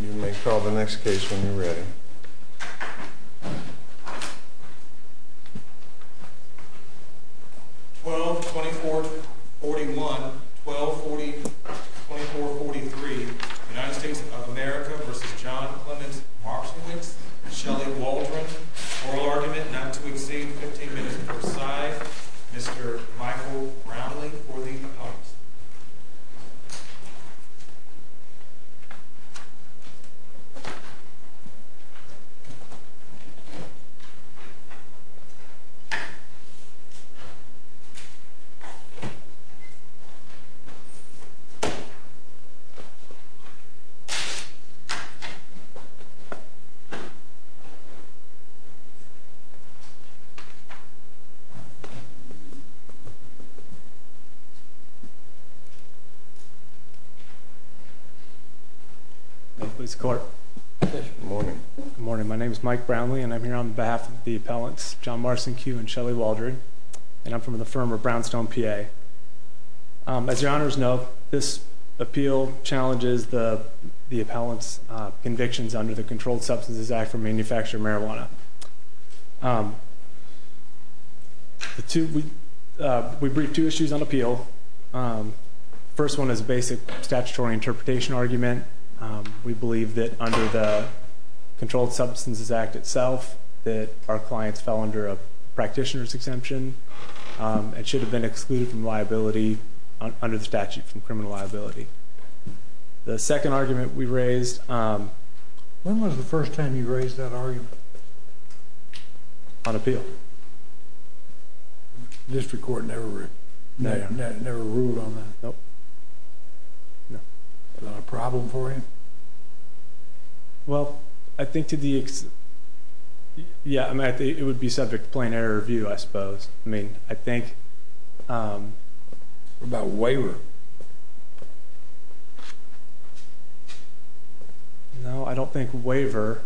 You may call the next case when you're ready. 12-24-41, 12-24-43, United States of America v. John Clement Marcinkewicz, Shelley Waldron, oral argument not to exceed 15 minutes per side, Mr. Michael Brownlee for the opponents. 12-24-41, 12-24-41, United States of America v. John Clement Marcinkewicz, Shelley Waldron, oral argument not to exceed 15 minutes per side, Mr. Michael Brownlee for the opponents. Good morning. My name is Mike Brownlee, and I'm here on behalf of the appellants John Marcinkew and Shelley Waldron, and I'm from the firm of Brownstone, PA. As your honors know, this appeal challenges the appellant's convictions under the Controlled Substances Act for manufacture of marijuana. We briefed two issues on appeal. The first one is a basic statutory interpretation argument. We believe that under the Controlled Substances Act itself that our clients fell under a practitioner's exemption and should have been excluded from liability under the statute from criminal liability. The second argument we raised... When was the first time you raised that argument? On appeal. The district court never ruled on that? Nope. Was that a problem for you? Well, I think to the extent... yeah, it would be subject to plain error of view, I suppose. I mean, I think... What about waiver? No, I don't think waiver...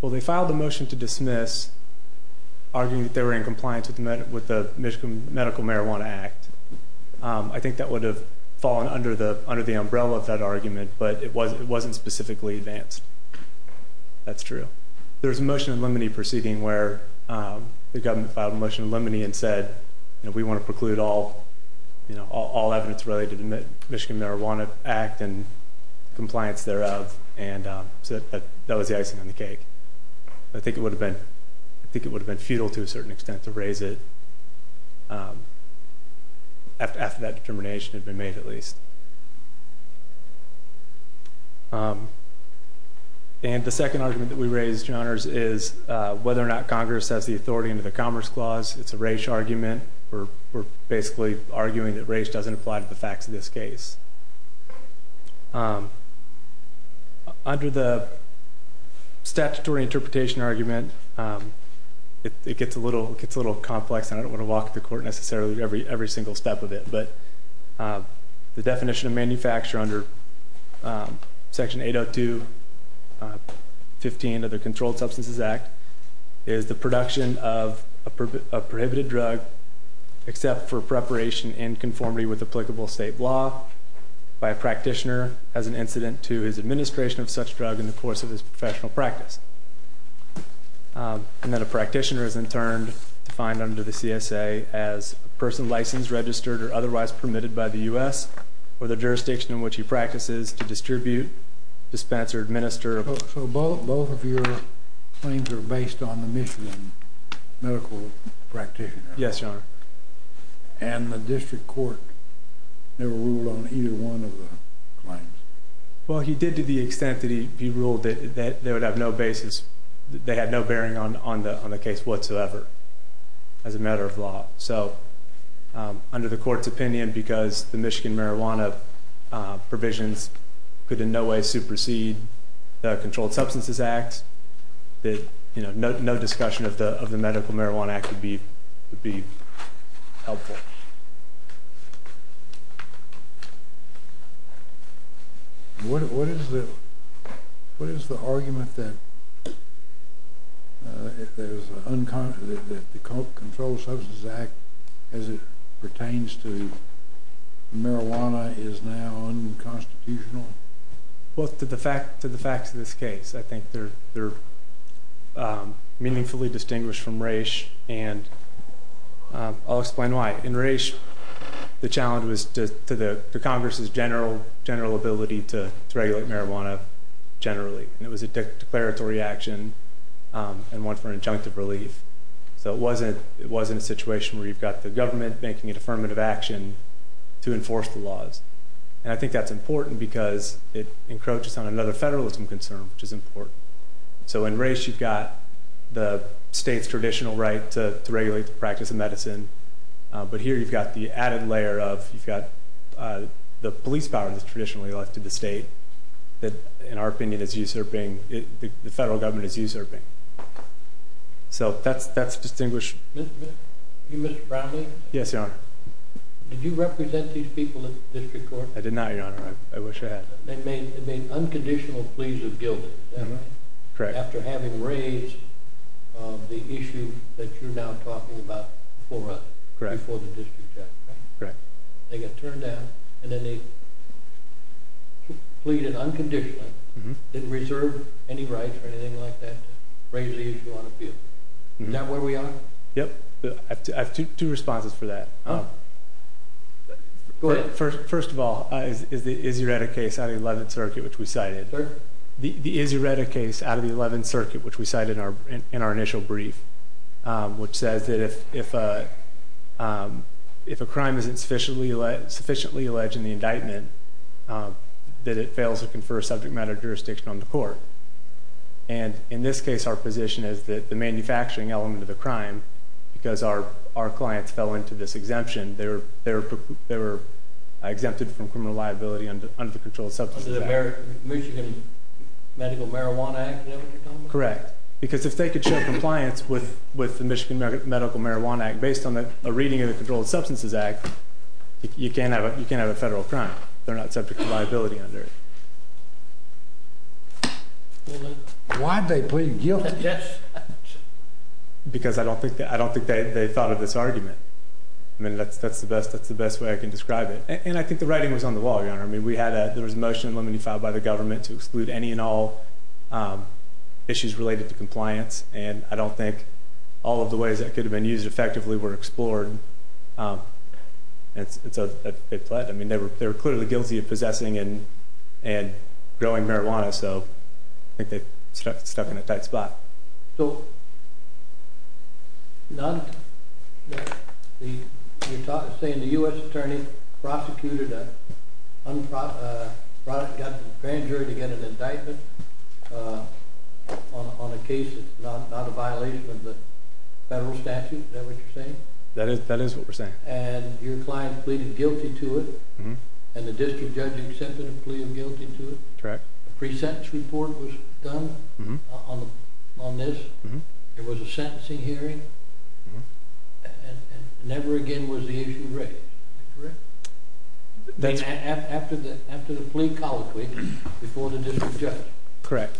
Well, they filed a motion to dismiss arguing that they were in compliance with the Michigan Medical Marijuana Act. I think that would have fallen under the umbrella of that argument, but it wasn't specifically advanced. That's true. There was a motion in limine proceeding where the government filed a motion in limine and said, we want to preclude all evidence related to the Michigan Marijuana Act and compliance thereof. That was the icing on the cake. I think it would have been futile to a certain extent to raise it after that determination had been made, at least. And the second argument that we raised, Your Honors, is whether or not Congress has the authority under the Commerce Clause. It's a race argument. We're basically arguing that race doesn't apply to the facts of this case. Under the statutory interpretation argument, it gets a little complex, and I don't want to walk the court necessarily every single step of it, but the definition of manufacture under Section 802.15 of the Controlled Substances Act is the production of a prohibited drug except for preparation in conformity with applicable state law by a practitioner as an incident to his administration of such drug in the course of his professional practice. And then a practitioner is in turn defined under the CSA as a person licensed, registered, or otherwise permitted by the U.S. or the jurisdiction in which he practices to distribute, dispense, or administer. So both of your claims are based on the Michigan medical practitioner? Yes, Your Honor. And the district court never ruled on either one of the claims? Well, he did to the extent that he ruled that they had no bearing on the case whatsoever as a matter of law. So under the court's opinion, because the Michigan marijuana provisions could in no way supersede the Controlled Substances Act, no discussion of the Medical Marijuana Act would be helpful. What is the argument that the Controlled Substances Act, as it pertains to marijuana, is now unconstitutional? Well, to the facts of this case, I think they're meaningfully distinguished from Raich, and I'll explain why. In Raich, the challenge was to Congress's general ability to regulate marijuana generally, and it was a declaratory action and one for injunctive relief. So it wasn't a situation where you've got the government making an affirmative action to enforce the laws. And I think that's important because it encroaches on another federalism concern, which is important. So in Raich, you've got the state's traditional right to regulate the practice of medicine, but here you've got the added layer of you've got the police power that's traditionally left to the state that, in our opinion, the federal government is usurping. So that's distinguished. Mr. Brownlee? Yes, Your Honor. Did you represent these people at the district court? I did not, Your Honor. I wish I had. They made unconditional pleas of guilt, is that right? Correct. After having raised the issue that you're now talking about before the district judge, right? Correct. They got turned down, and then they pleaded unconditionally, didn't reserve any rights or anything like that, to raise the issue on appeal. Is that where we are? Yep. I have two responses for that. Go ahead. First of all, is the Izzioretta case out of the Eleventh Circuit, which we cited. The Izzioretta case out of the Eleventh Circuit, which we cited in our initial brief, which says that if a crime isn't sufficiently alleged in the indictment, that it fails to confer subject matter jurisdiction on the court. And in this case, our position is that the manufacturing element of the crime, because our clients fell into this exemption, they were exempted from criminal liability under the Controlled Substances Act. Under the Michigan Medical Marijuana Act, is that what you're talking about? Correct. Because if they could show compliance with the Michigan Medical Marijuana Act based on a reading of the Controlled Substances Act, you can't have a federal crime. They're not subject to liability under it. Why'd they plead guilty? Because I don't think they thought of this argument. I mean, that's the best way I can describe it. And I think the writing was on the wall, Your Honor. I mean, there was a motion in limine filed by the government to exclude any and all issues related to compliance, and I don't think all of the ways that could have been used effectively were explored. And so they pled. I mean, they were clearly guilty of possessing and growing marijuana, so I think they stuck in a tight spot. So you're saying the U.S. attorney prosecuted a product, got the grand jury to get an indictment on a case that's not a violation of the federal statute? Is that what you're saying? That is what we're saying. And your client pleaded guilty to it, and the district judge accepted and pleaded guilty to it? A pre-sentence report was done on this? There was a sentencing hearing? And never again was the issue raised? After the plea colloquy, before the district judge? Correct.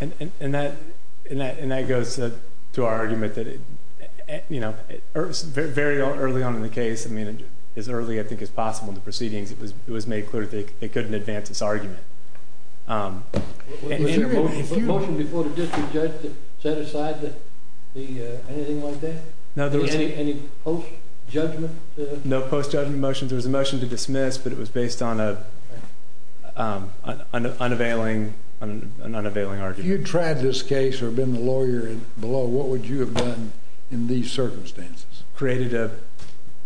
And that goes to our argument that, you know, very early on in the case, I mean, as early, I think, as possible in the proceedings, it was made clear that they couldn't advance this argument. Was there a motion before the district judge to set aside anything like that? Any post-judgment? No post-judgment motions. There was a motion to dismiss, but it was based on an unavailing argument. If you had tried this case or been the lawyer below, what would you have done in these circumstances? I would have created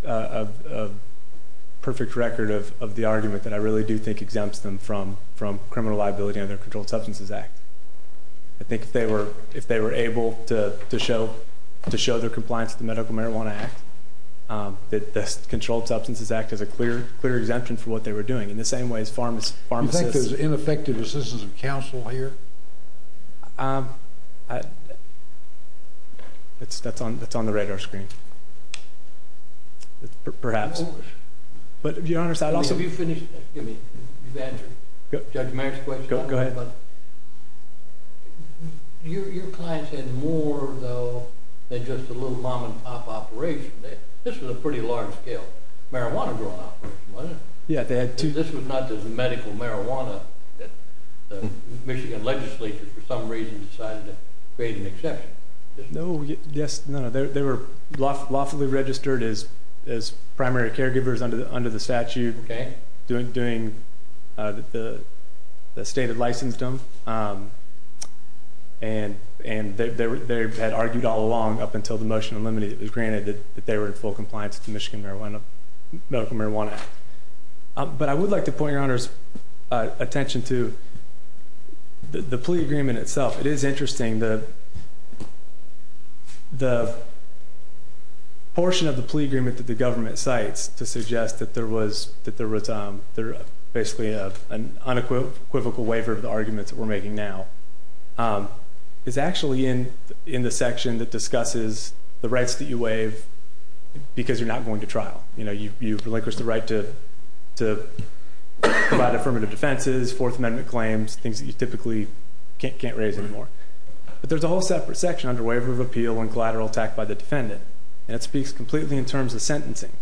a perfect record of the argument that I really do think exempts them from criminal liability under the Controlled Substances Act. I think if they were able to show their compliance with the Medical Marijuana Act, the Controlled Substances Act is a clear exemption for what they were doing. In the same way as pharmacists. You think there's ineffective assistance of counsel here? Um, that's on the radar screen. Perhaps. Your Honor, I'd also be finished. Excuse me, you've answered Judge Mayer's question. Go ahead. Your clients had more, though, than just a little mom-and-pop operation. This was a pretty large-scale marijuana-grown operation, wasn't it? Yeah, they had two. But this was not just a medical marijuana that the Michigan legislature, for some reason, decided to create an exception. No, yes, no. They were lawfully registered as primary caregivers under the statute, doing the state that licensed them, and they had argued all along up until the motion unlimited that it was granted that they were in full compliance with the Michigan Medical Marijuana Act. But I would like to point your Honor's attention to the plea agreement itself. It is interesting. The portion of the plea agreement that the government cites to suggest that there was basically an unequivocal waiver of the arguments that we're making now is actually in the section that discusses the rights that you waive because you're not going to trial. You know, you relinquish the right to provide affirmative defenses, Fourth Amendment claims, things that you typically can't raise anymore. But there's a whole separate section under waiver of appeal and collateral attack by the defendant, and it speaks completely in terms of sentencing.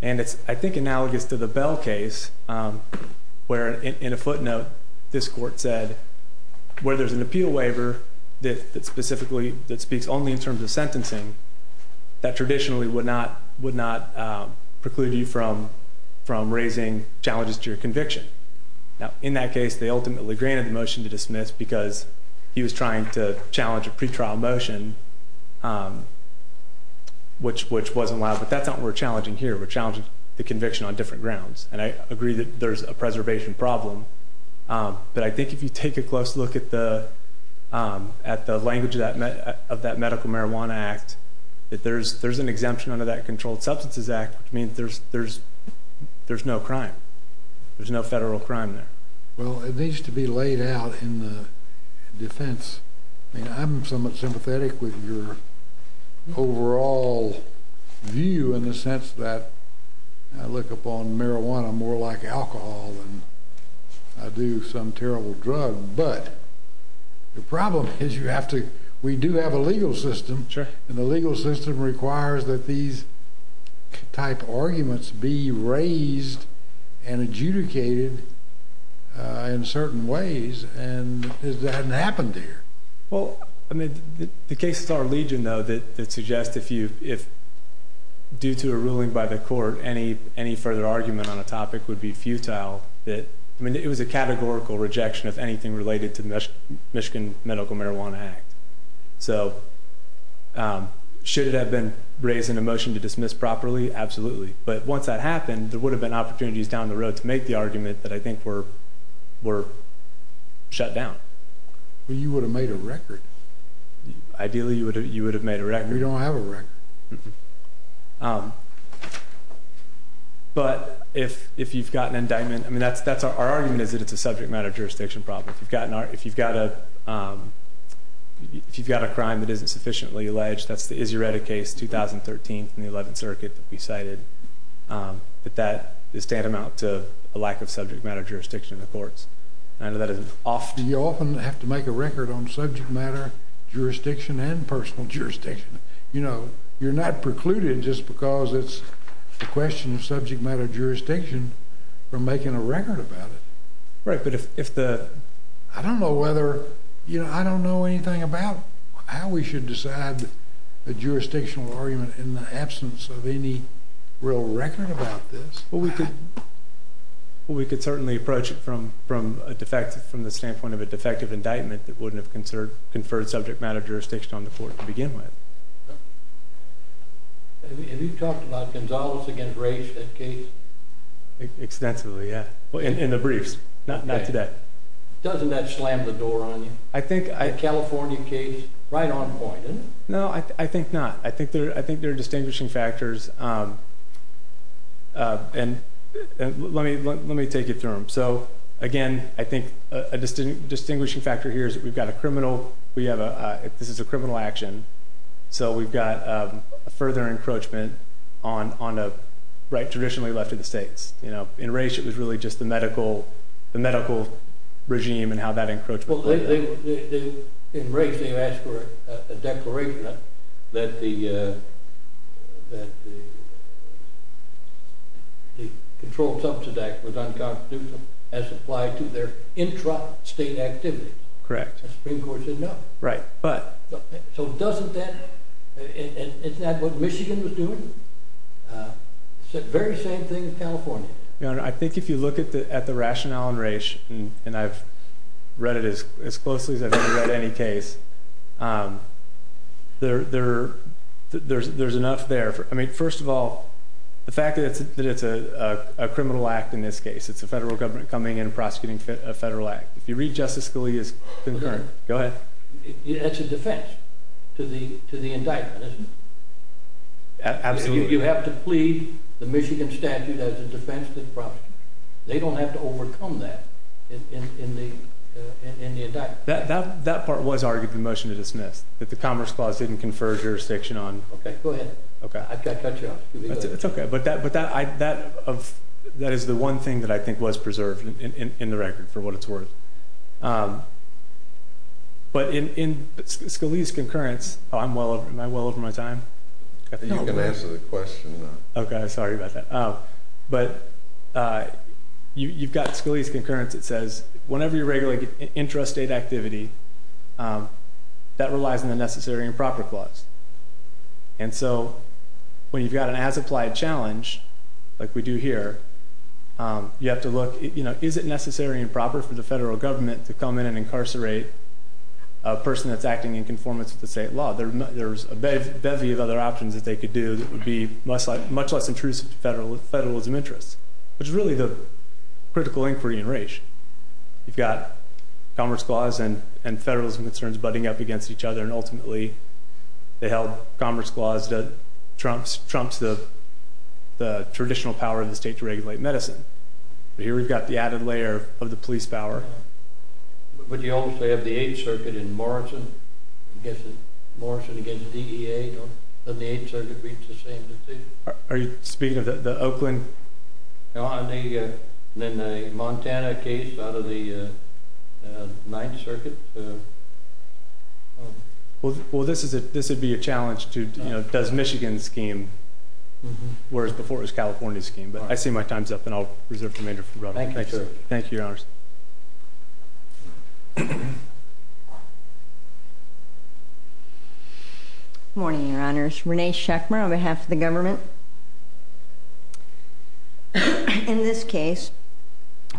And it's, I think, analogous to the Bell case where, in a footnote, this court said where there's an appeal waiver that speaks only in terms of sentencing that traditionally would not preclude you from raising challenges to your conviction. Now, in that case, they ultimately granted the motion to dismiss because he was trying to challenge a pretrial motion, which wasn't allowed. But that's not what we're challenging here. We're challenging the conviction on different grounds, and I agree that there's a preservation problem. But I think if you take a close look at the language of that Medical Marijuana Act, that there's an exemption under that Controlled Substances Act, which means there's no crime. There's no federal crime there. Well, it needs to be laid out in the defense. I mean, I'm somewhat sympathetic with your overall view in the sense that I look upon marijuana more like alcohol than I do some terrible drug. But the problem is we do have a legal system, and the legal system requires that these type of arguments be raised and adjudicated in certain ways, and it hasn't happened here. Well, I mean, the case of Star Legion, though, that suggests if, due to a ruling by the court, any further argument on a topic would be futile. I mean, it was a categorical rejection, if anything, related to the Michigan Medical Marijuana Act. So should it have been raised in a motion to dismiss properly? Absolutely. But once that happened, there would have been opportunities down the road to make the argument that I think were shut down. Well, you would have made a record. Ideally, you would have made a record. We don't have a record. Mm-hmm. But if you've got an indictment, I mean, that's our argument, is that it's a subject matter jurisdiction problem. If you've got a crime that isn't sufficiently alleged, that's the Izzioretta case, 2013, from the 11th Circuit that we cited. But that is tantamount to a lack of subject matter jurisdiction in the courts. You often have to make a record on subject matter jurisdiction and personal jurisdiction. You know, you're not precluded just because it's a question of subject matter jurisdiction from making a record about it. Right, but if the... I don't know whether, you know, I don't know anything about how we should decide a jurisdictional argument in the absence of any real record about this. Well, we could certainly approach it from the standpoint of a defective indictment that wouldn't have conferred subject matter jurisdiction on the court to begin with. Have you talked about Gonzales against Race, that case? Extensively, yeah. In the briefs. Not today. Doesn't that slam the door on you? I think I... The California case, right on point, isn't it? No, I think not. I think there are distinguishing factors. And let me take you through them. So, again, I think a distinguishing factor here is that we've got a criminal... This is a criminal action, so we've got a further encroachment on a right traditionally left of the states. In Race, it was really just the medical regime and how that encroached. In Race, they asked for a declaration that the Controlled Substance Act was unconstitutional as applied to their intra-state activities. Correct. The Supreme Court said no. Right, but... So doesn't that... Isn't that what Michigan was doing? It's the very same thing in California. Your Honor, I think if you look at the rationale in Race, and I've read it as closely as I've ever read any case, there's enough there. I mean, first of all, the fact that it's a criminal act in this case, it's a federal government coming in and prosecuting a federal act. If you read Justice Scalia's concurrent... Go ahead. It's a defense to the indictment, isn't it? Absolutely. You have to plead the Michigan statute as a defense to the prosecution. They don't have to overcome that in the indictment. That part was argued in the motion to dismiss, that the Commerce Clause didn't confer jurisdiction on... Okay, go ahead. Okay. I cut you off. It's okay, but that is the one thing that I think was preserved in the record for what it's worth. But in Scalia's concurrence... Am I well over my time? You can answer the question. Okay. Sorry about that. But you've got Scalia's concurrence that says whenever you're regulating intrastate activity, that relies on the Necessary and Proper Clause. And so when you've got an as-applied challenge, like we do here, you have to look, you know, is it necessary and proper for the federal government to come in and incarcerate a person that's acting in conformance with the state law? There's a bevy of other options that they could do that would be much less intrusive to federalism interests, which is really the critical inquiry in Raich. You've got Commerce Clause and federalism concerns butting up against each other, and ultimately they held Commerce Clause trumps the traditional power of the state to regulate medicine. But here we've got the added layer of the police power. But you also have the Eighth Circuit in Morrison against DEA. Doesn't the Eighth Circuit reach the same decision? Are you speaking of the Oakland? No, and then the Montana case out of the Ninth Circuit. Well, this would be a challenge to, you know, does Michigan scheme, whereas before it was California's scheme. But I see my time's up, and I'll reserve the remainder for Rutherford. Thank you, sir. Thank you, Your Honors. Good morning, Your Honors. Renee Schechmer on behalf of the government. In this case,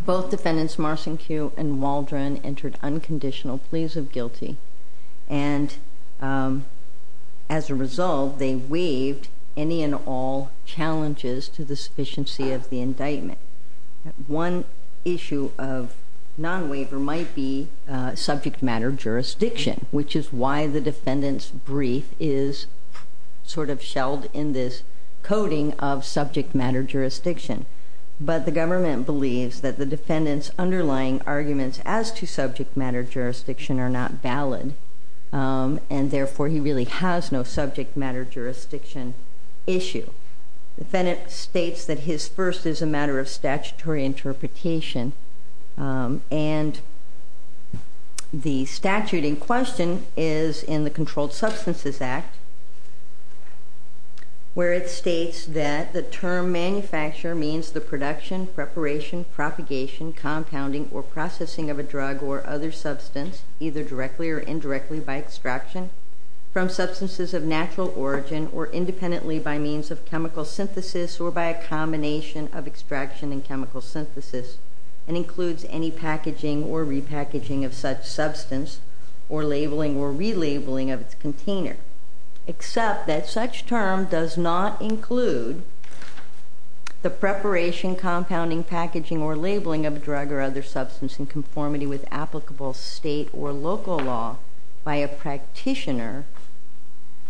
both defendants, Marson Cue and Waldron, entered unconditional pleas of guilty. And as a result, they waived any and all challenges to the sufficiency of the indictment. One issue of non-waiver might be subject matter jurisdiction, which is why the defendant's brief is sort of shelled in this coding of subject matter jurisdiction. But the government believes that the defendant's underlying arguments as to subject matter jurisdiction are not valid, and therefore he really has no subject matter jurisdiction issue. The defendant states that his first is a matter of statutory interpretation, and the statute in question is in the Controlled Substances Act, where it states that the term manufacturer means the production, preparation, propagation, compounding, or processing of a drug or other substance, either directly or indirectly by extraction from substances of natural origin or independently by means of chemical synthesis or by a combination of extraction and chemical synthesis, and includes any packaging or repackaging of such substance or labeling or relabeling of its container, except that such term does not include the preparation, compounding, packaging, or labeling of a drug or other substance in conformity with applicable state or local law by a practitioner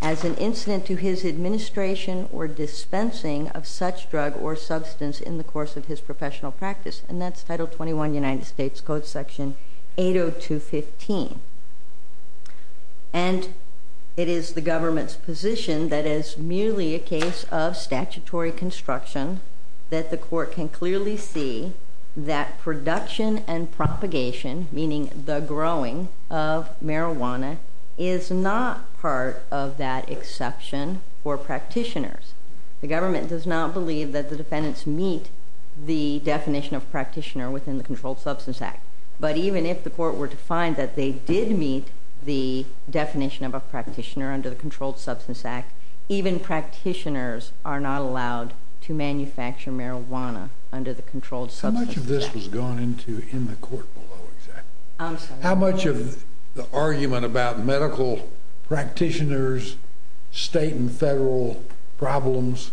as an incident to his administration or dispensing of such drug or substance in the course of his professional practice, and that's Title 21 United States Code Section 80215. And it is the government's position that as merely a case of statutory construction that the court can clearly see that production and propagation, meaning the growing of marijuana, is not part of that exception for practitioners. The government does not believe that the defendants meet the definition of practitioner within the Controlled Substance Act, but even if the court were to find that they did meet the definition of a practitioner under the Controlled Substance Act, even practitioners are not allowed to manufacture marijuana under the Controlled Substance Act. How much of this was gone into in the court below, exactly? I'm sorry? How much of the argument about medical practitioners, state and federal problems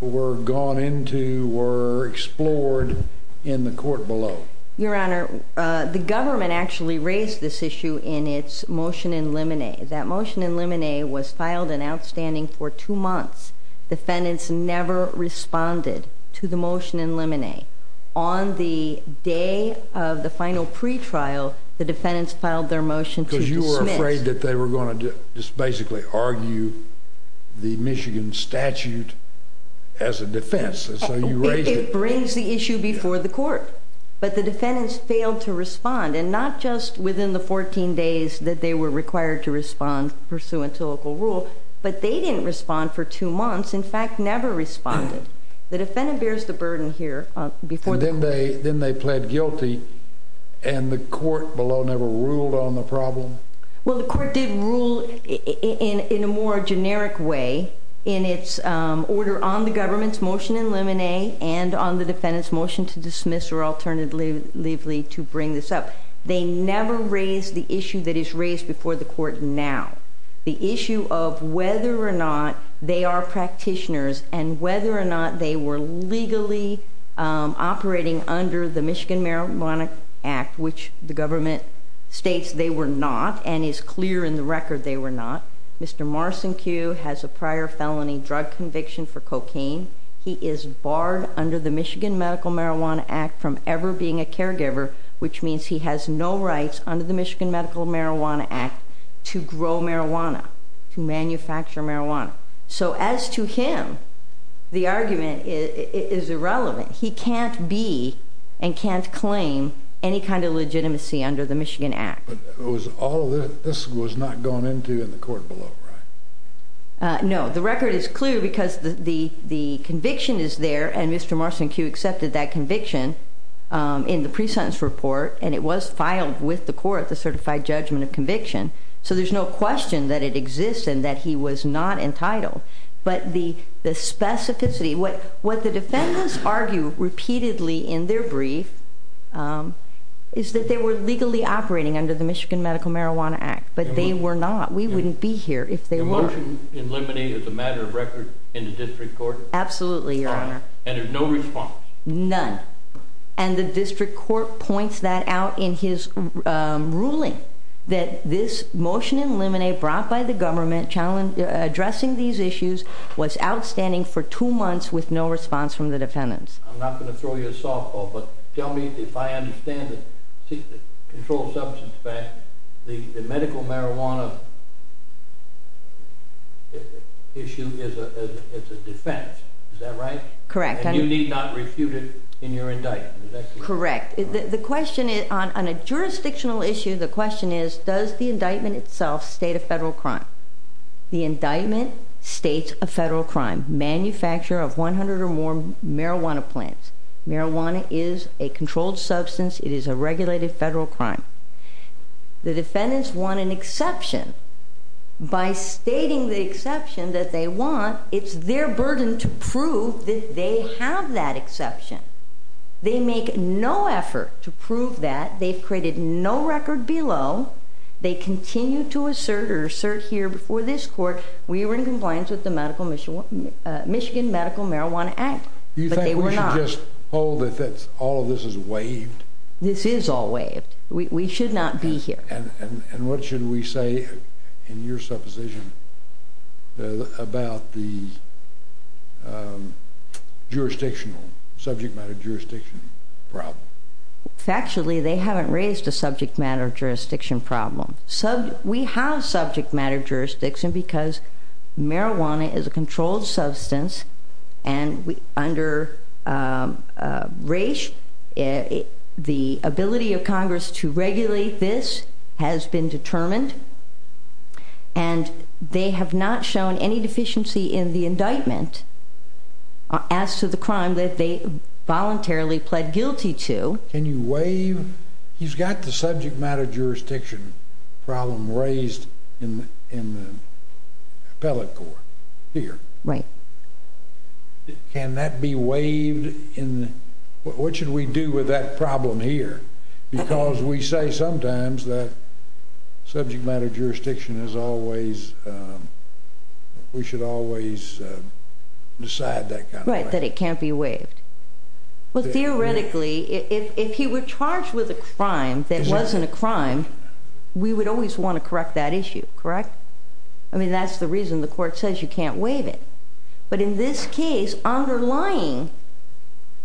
were gone into, were explored in the court below? Your Honor, the government actually raised this issue in its motion in limine. That motion in limine was filed and outstanding for two months. Defendants never responded to the motion in limine. On the day of the final pretrial, the defendants filed their motion to dismiss. Because you were afraid that they were going to just basically argue the Michigan statute as a defense, and so you raised it. It brings the issue before the court, but the defendants failed to respond, and not just within the 14 days that they were required to respond pursuant to local rule, but they didn't respond for two months, in fact, never responded. The defendant bears the burden here before the court. Then they pled guilty, and the court below never ruled on the problem? Well, the court did rule in a more generic way in its order on the government's motion in limine and on the defendant's motion to dismiss or alternatively to bring this up. They never raised the issue that is raised before the court now. The issue of whether or not they are practitioners and whether or not they were legally operating under the Michigan Marijuana Act, which the government states they were not and is clear in the record they were not. Mr. Morrison Q has a prior felony drug conviction for cocaine. He is barred under the Michigan Medical Marijuana Act from ever being a caregiver, which means he has no rights under the Michigan Medical Marijuana Act to grow marijuana, to manufacture marijuana. So as to him, the argument is irrelevant. He can't be and can't claim any kind of legitimacy under the Michigan Act. But this was not gone into in the court below, right? No. The record is clear because the conviction is there, and Mr. Morrison Q accepted that conviction in the pre-sentence report, and it was filed with the court, the certified judgment of conviction, so there's no question that it exists and that he was not entitled. But the specificity, what the defendants argue repeatedly in their brief is that they were legally operating under the Michigan Medical Marijuana Act, but they were not. We wouldn't be here if they weren't. The motion in limine is a matter of record in the district court? Absolutely, Your Honor. And there's no response? None. And the district court points that out in his ruling, that this motion in limine brought by the government addressing these issues was outstanding for two months with no response from the defendants. I'm not going to throw you a softball, but tell me if I understand it. The controlled substance fact, the medical marijuana issue is a defense. Is that right? Correct. And you need not refute it in your indictment. Correct. On a jurisdictional issue, the question is, does the indictment itself state a federal crime? The indictment states a federal crime. Manufacture of 100 or more marijuana plants. Marijuana is a controlled substance. It is a regulated federal crime. The defendants want an exception. By stating the exception that they want, it's their burden to prove that they have that exception. They make no effort to prove that. They've created no record below. They continue to assert, or assert here before this court, we were in compliance with the Michigan Medical Marijuana Act. Do you think we should just hold that all of this is waived? This is all waived. We should not be here. And what should we say in your supposition about the jurisdictional, subject matter jurisdiction problem? Factually, they haven't raised a subject matter jurisdiction problem. We have subject matter jurisdiction because marijuana is a controlled substance and under race, the ability of Congress to regulate this has been determined. And they have not shown any deficiency in the indictment as to the crime that they voluntarily pled guilty to. Can you waive? He's got the subject matter jurisdiction problem raised in the appellate court here. Right. Can that be waived? What should we do with that problem here? Because we say sometimes that subject matter jurisdiction is always, we should always decide that kind of thing. Right, that it can't be waived. But theoretically, if he were charged with a crime that wasn't a crime, we would always want to correct that issue, correct? I mean, that's the reason the court says you can't waive it. But in this case, underlying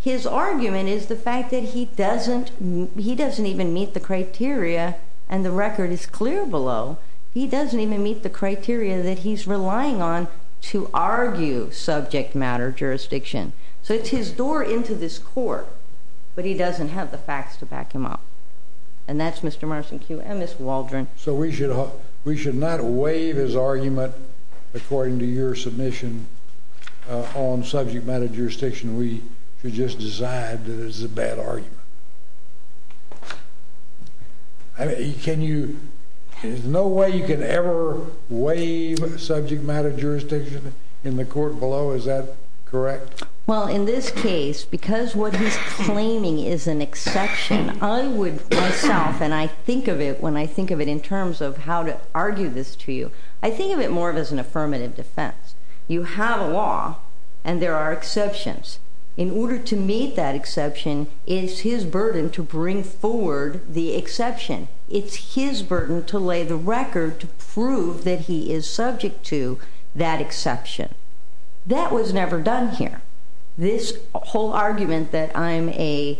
his argument is the fact that he doesn't even meet the criteria, and the record is clear below, he doesn't even meet the criteria that he's relying on to argue subject matter jurisdiction. So it's his door into this court, but he doesn't have the facts to back him up. And that's Mr. Marson Cue and Ms. Waldron. So we should not waive his argument according to your submission on subject matter jurisdiction. We should just decide that it's a bad argument. There's no way you can ever waive subject matter jurisdiction in the court below, is that correct? Well, in this case, because what he's claiming is an exception, I would myself, and I think of it when I think of it in terms of how to argue this to you, I think of it more as an affirmative defense. You have a law, and there are exceptions. In order to meet that exception, it's his burden to bring forward the exception. It's his burden to lay the record to prove that he is subject to that exception. That was never done here. This whole argument that I'm a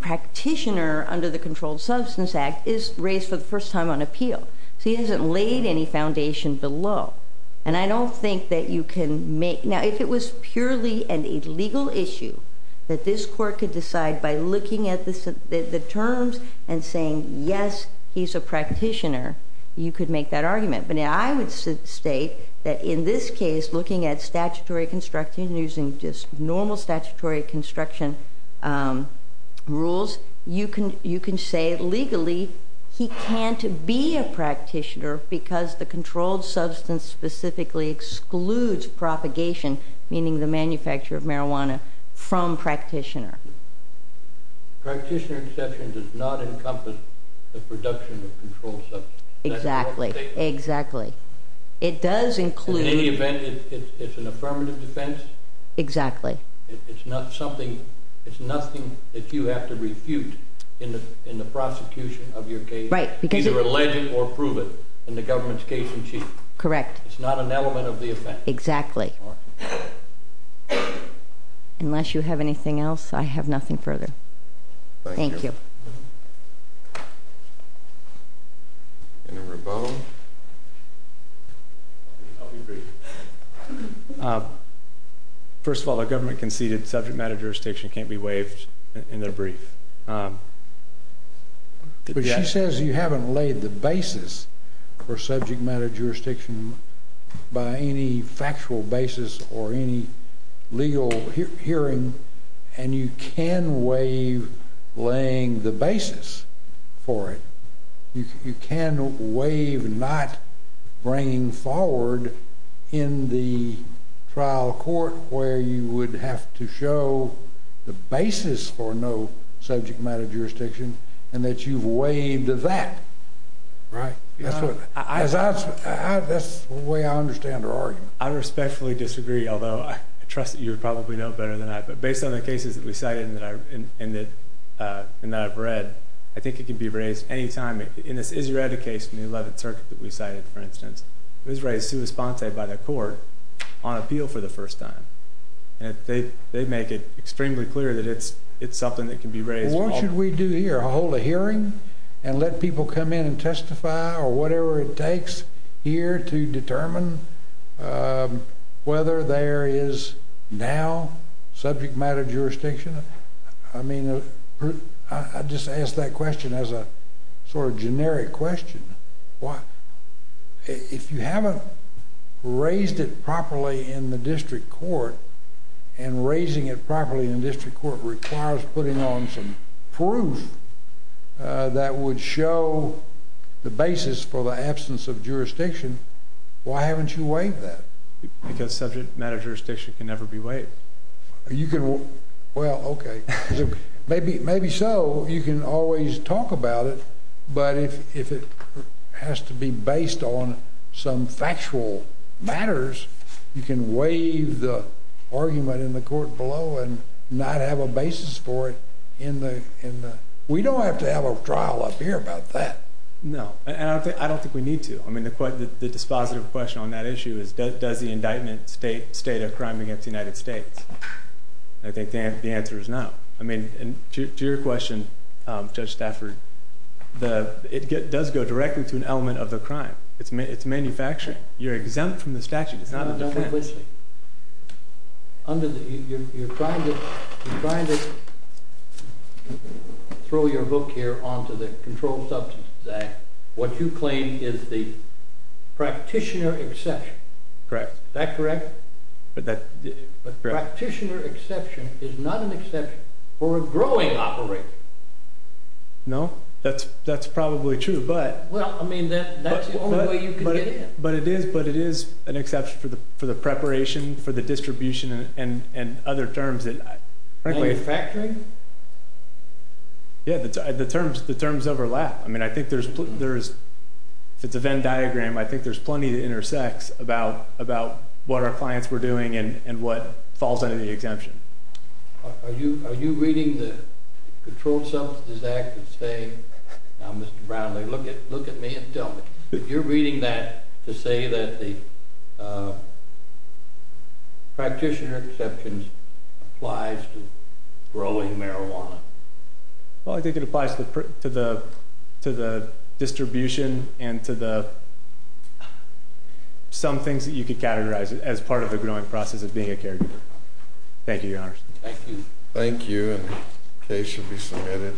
practitioner under the Controlled Substance Act is raised for the first time on appeal. So he hasn't laid any foundation below. And I don't think that you can make—now, if it was purely a legal issue that this court could decide by looking at the terms and saying, yes, he's a practitioner, you could make that argument. But I would state that in this case, looking at statutory construction and using just normal statutory construction rules, you can say legally he can't be a practitioner because the controlled substance specifically excludes propagation, meaning the manufacture of marijuana, from practitioner. Practitioner exception does not encompass the production of controlled substance. Exactly. Exactly. It does include— In any event, it's an affirmative defense. Exactly. It's not something—it's nothing that you have to refute in the prosecution of your case. Right. Either allege it or prove it in the government's case in chief. Correct. It's not an element of the offense. Exactly. Unless you have anything else, I have nothing further. Thank you. Thank you. Mr. Rabone. I'll be brief. First of all, the government conceded subject matter jurisdiction can't be waived in their brief. But she says you haven't laid the basis for subject matter jurisdiction by any factual basis or any legal hearing, and you can waive laying the basis for it. You can waive not bringing forward in the trial court where you would have to show the basis for no subject matter jurisdiction and that you've waived that. Right. That's the way I understand her argument. I respectfully disagree, although I trust that you probably know better than I. But based on the cases that we cited and that I've read, I think it can be raised any time. In this Izzereta case in the 11th Circuit that we cited, for instance, it was raised sui sponte by the court on appeal for the first time. And they make it extremely clear that it's something that can be raised. What should we do here? Hold a hearing and let people come in and testify or whatever it takes here to determine whether there is now subject matter jurisdiction? I mean, I just ask that question as a sort of generic question. If you haven't raised it properly in the district court and raising it properly in the district court requires putting on some proof that would show the basis for the absence of jurisdiction, why haven't you waived that? Because subject matter jurisdiction can never be waived. Well, okay. Maybe so. You can always talk about it. But if it has to be based on some factual matters, you can waive the argument in the court below and not have a basis for it. We don't have to have a trial up here about that. No, and I don't think we need to. I mean, the dispositive question on that issue is does the indictment state a crime against the United States? I think the answer is no. I mean, to your question, Judge Stafford, it does go directly to an element of the crime. It's manufacturing. You're exempt from the statute. It's not a defense. You're trying to throw your book here onto the Controlled Substances Act. What you claim is the practitioner exception. Correct. Is that correct? But practitioner exception is not an exception for a growing operation. No, that's probably true. Well, I mean, that's the only way you can get in. But it is an exception for the preparation, for the distribution, and other terms. Manufacturing? Yeah, the terms overlap. I mean, I think if it's a Venn diagram, I think there's plenty that intersects about what our clients were doing and what falls under the exemption. Are you reading the Controlled Substances Act to say, now, Mr. Brownlee, look at me and tell me, you're reading that to say that the practitioner exception applies to growing marijuana? Well, I think it applies to the distribution and to some things that you could categorize as part of the growing process of being a caregiver. Thank you, Your Honors. Thank you. Thank you. And the case should be submitted.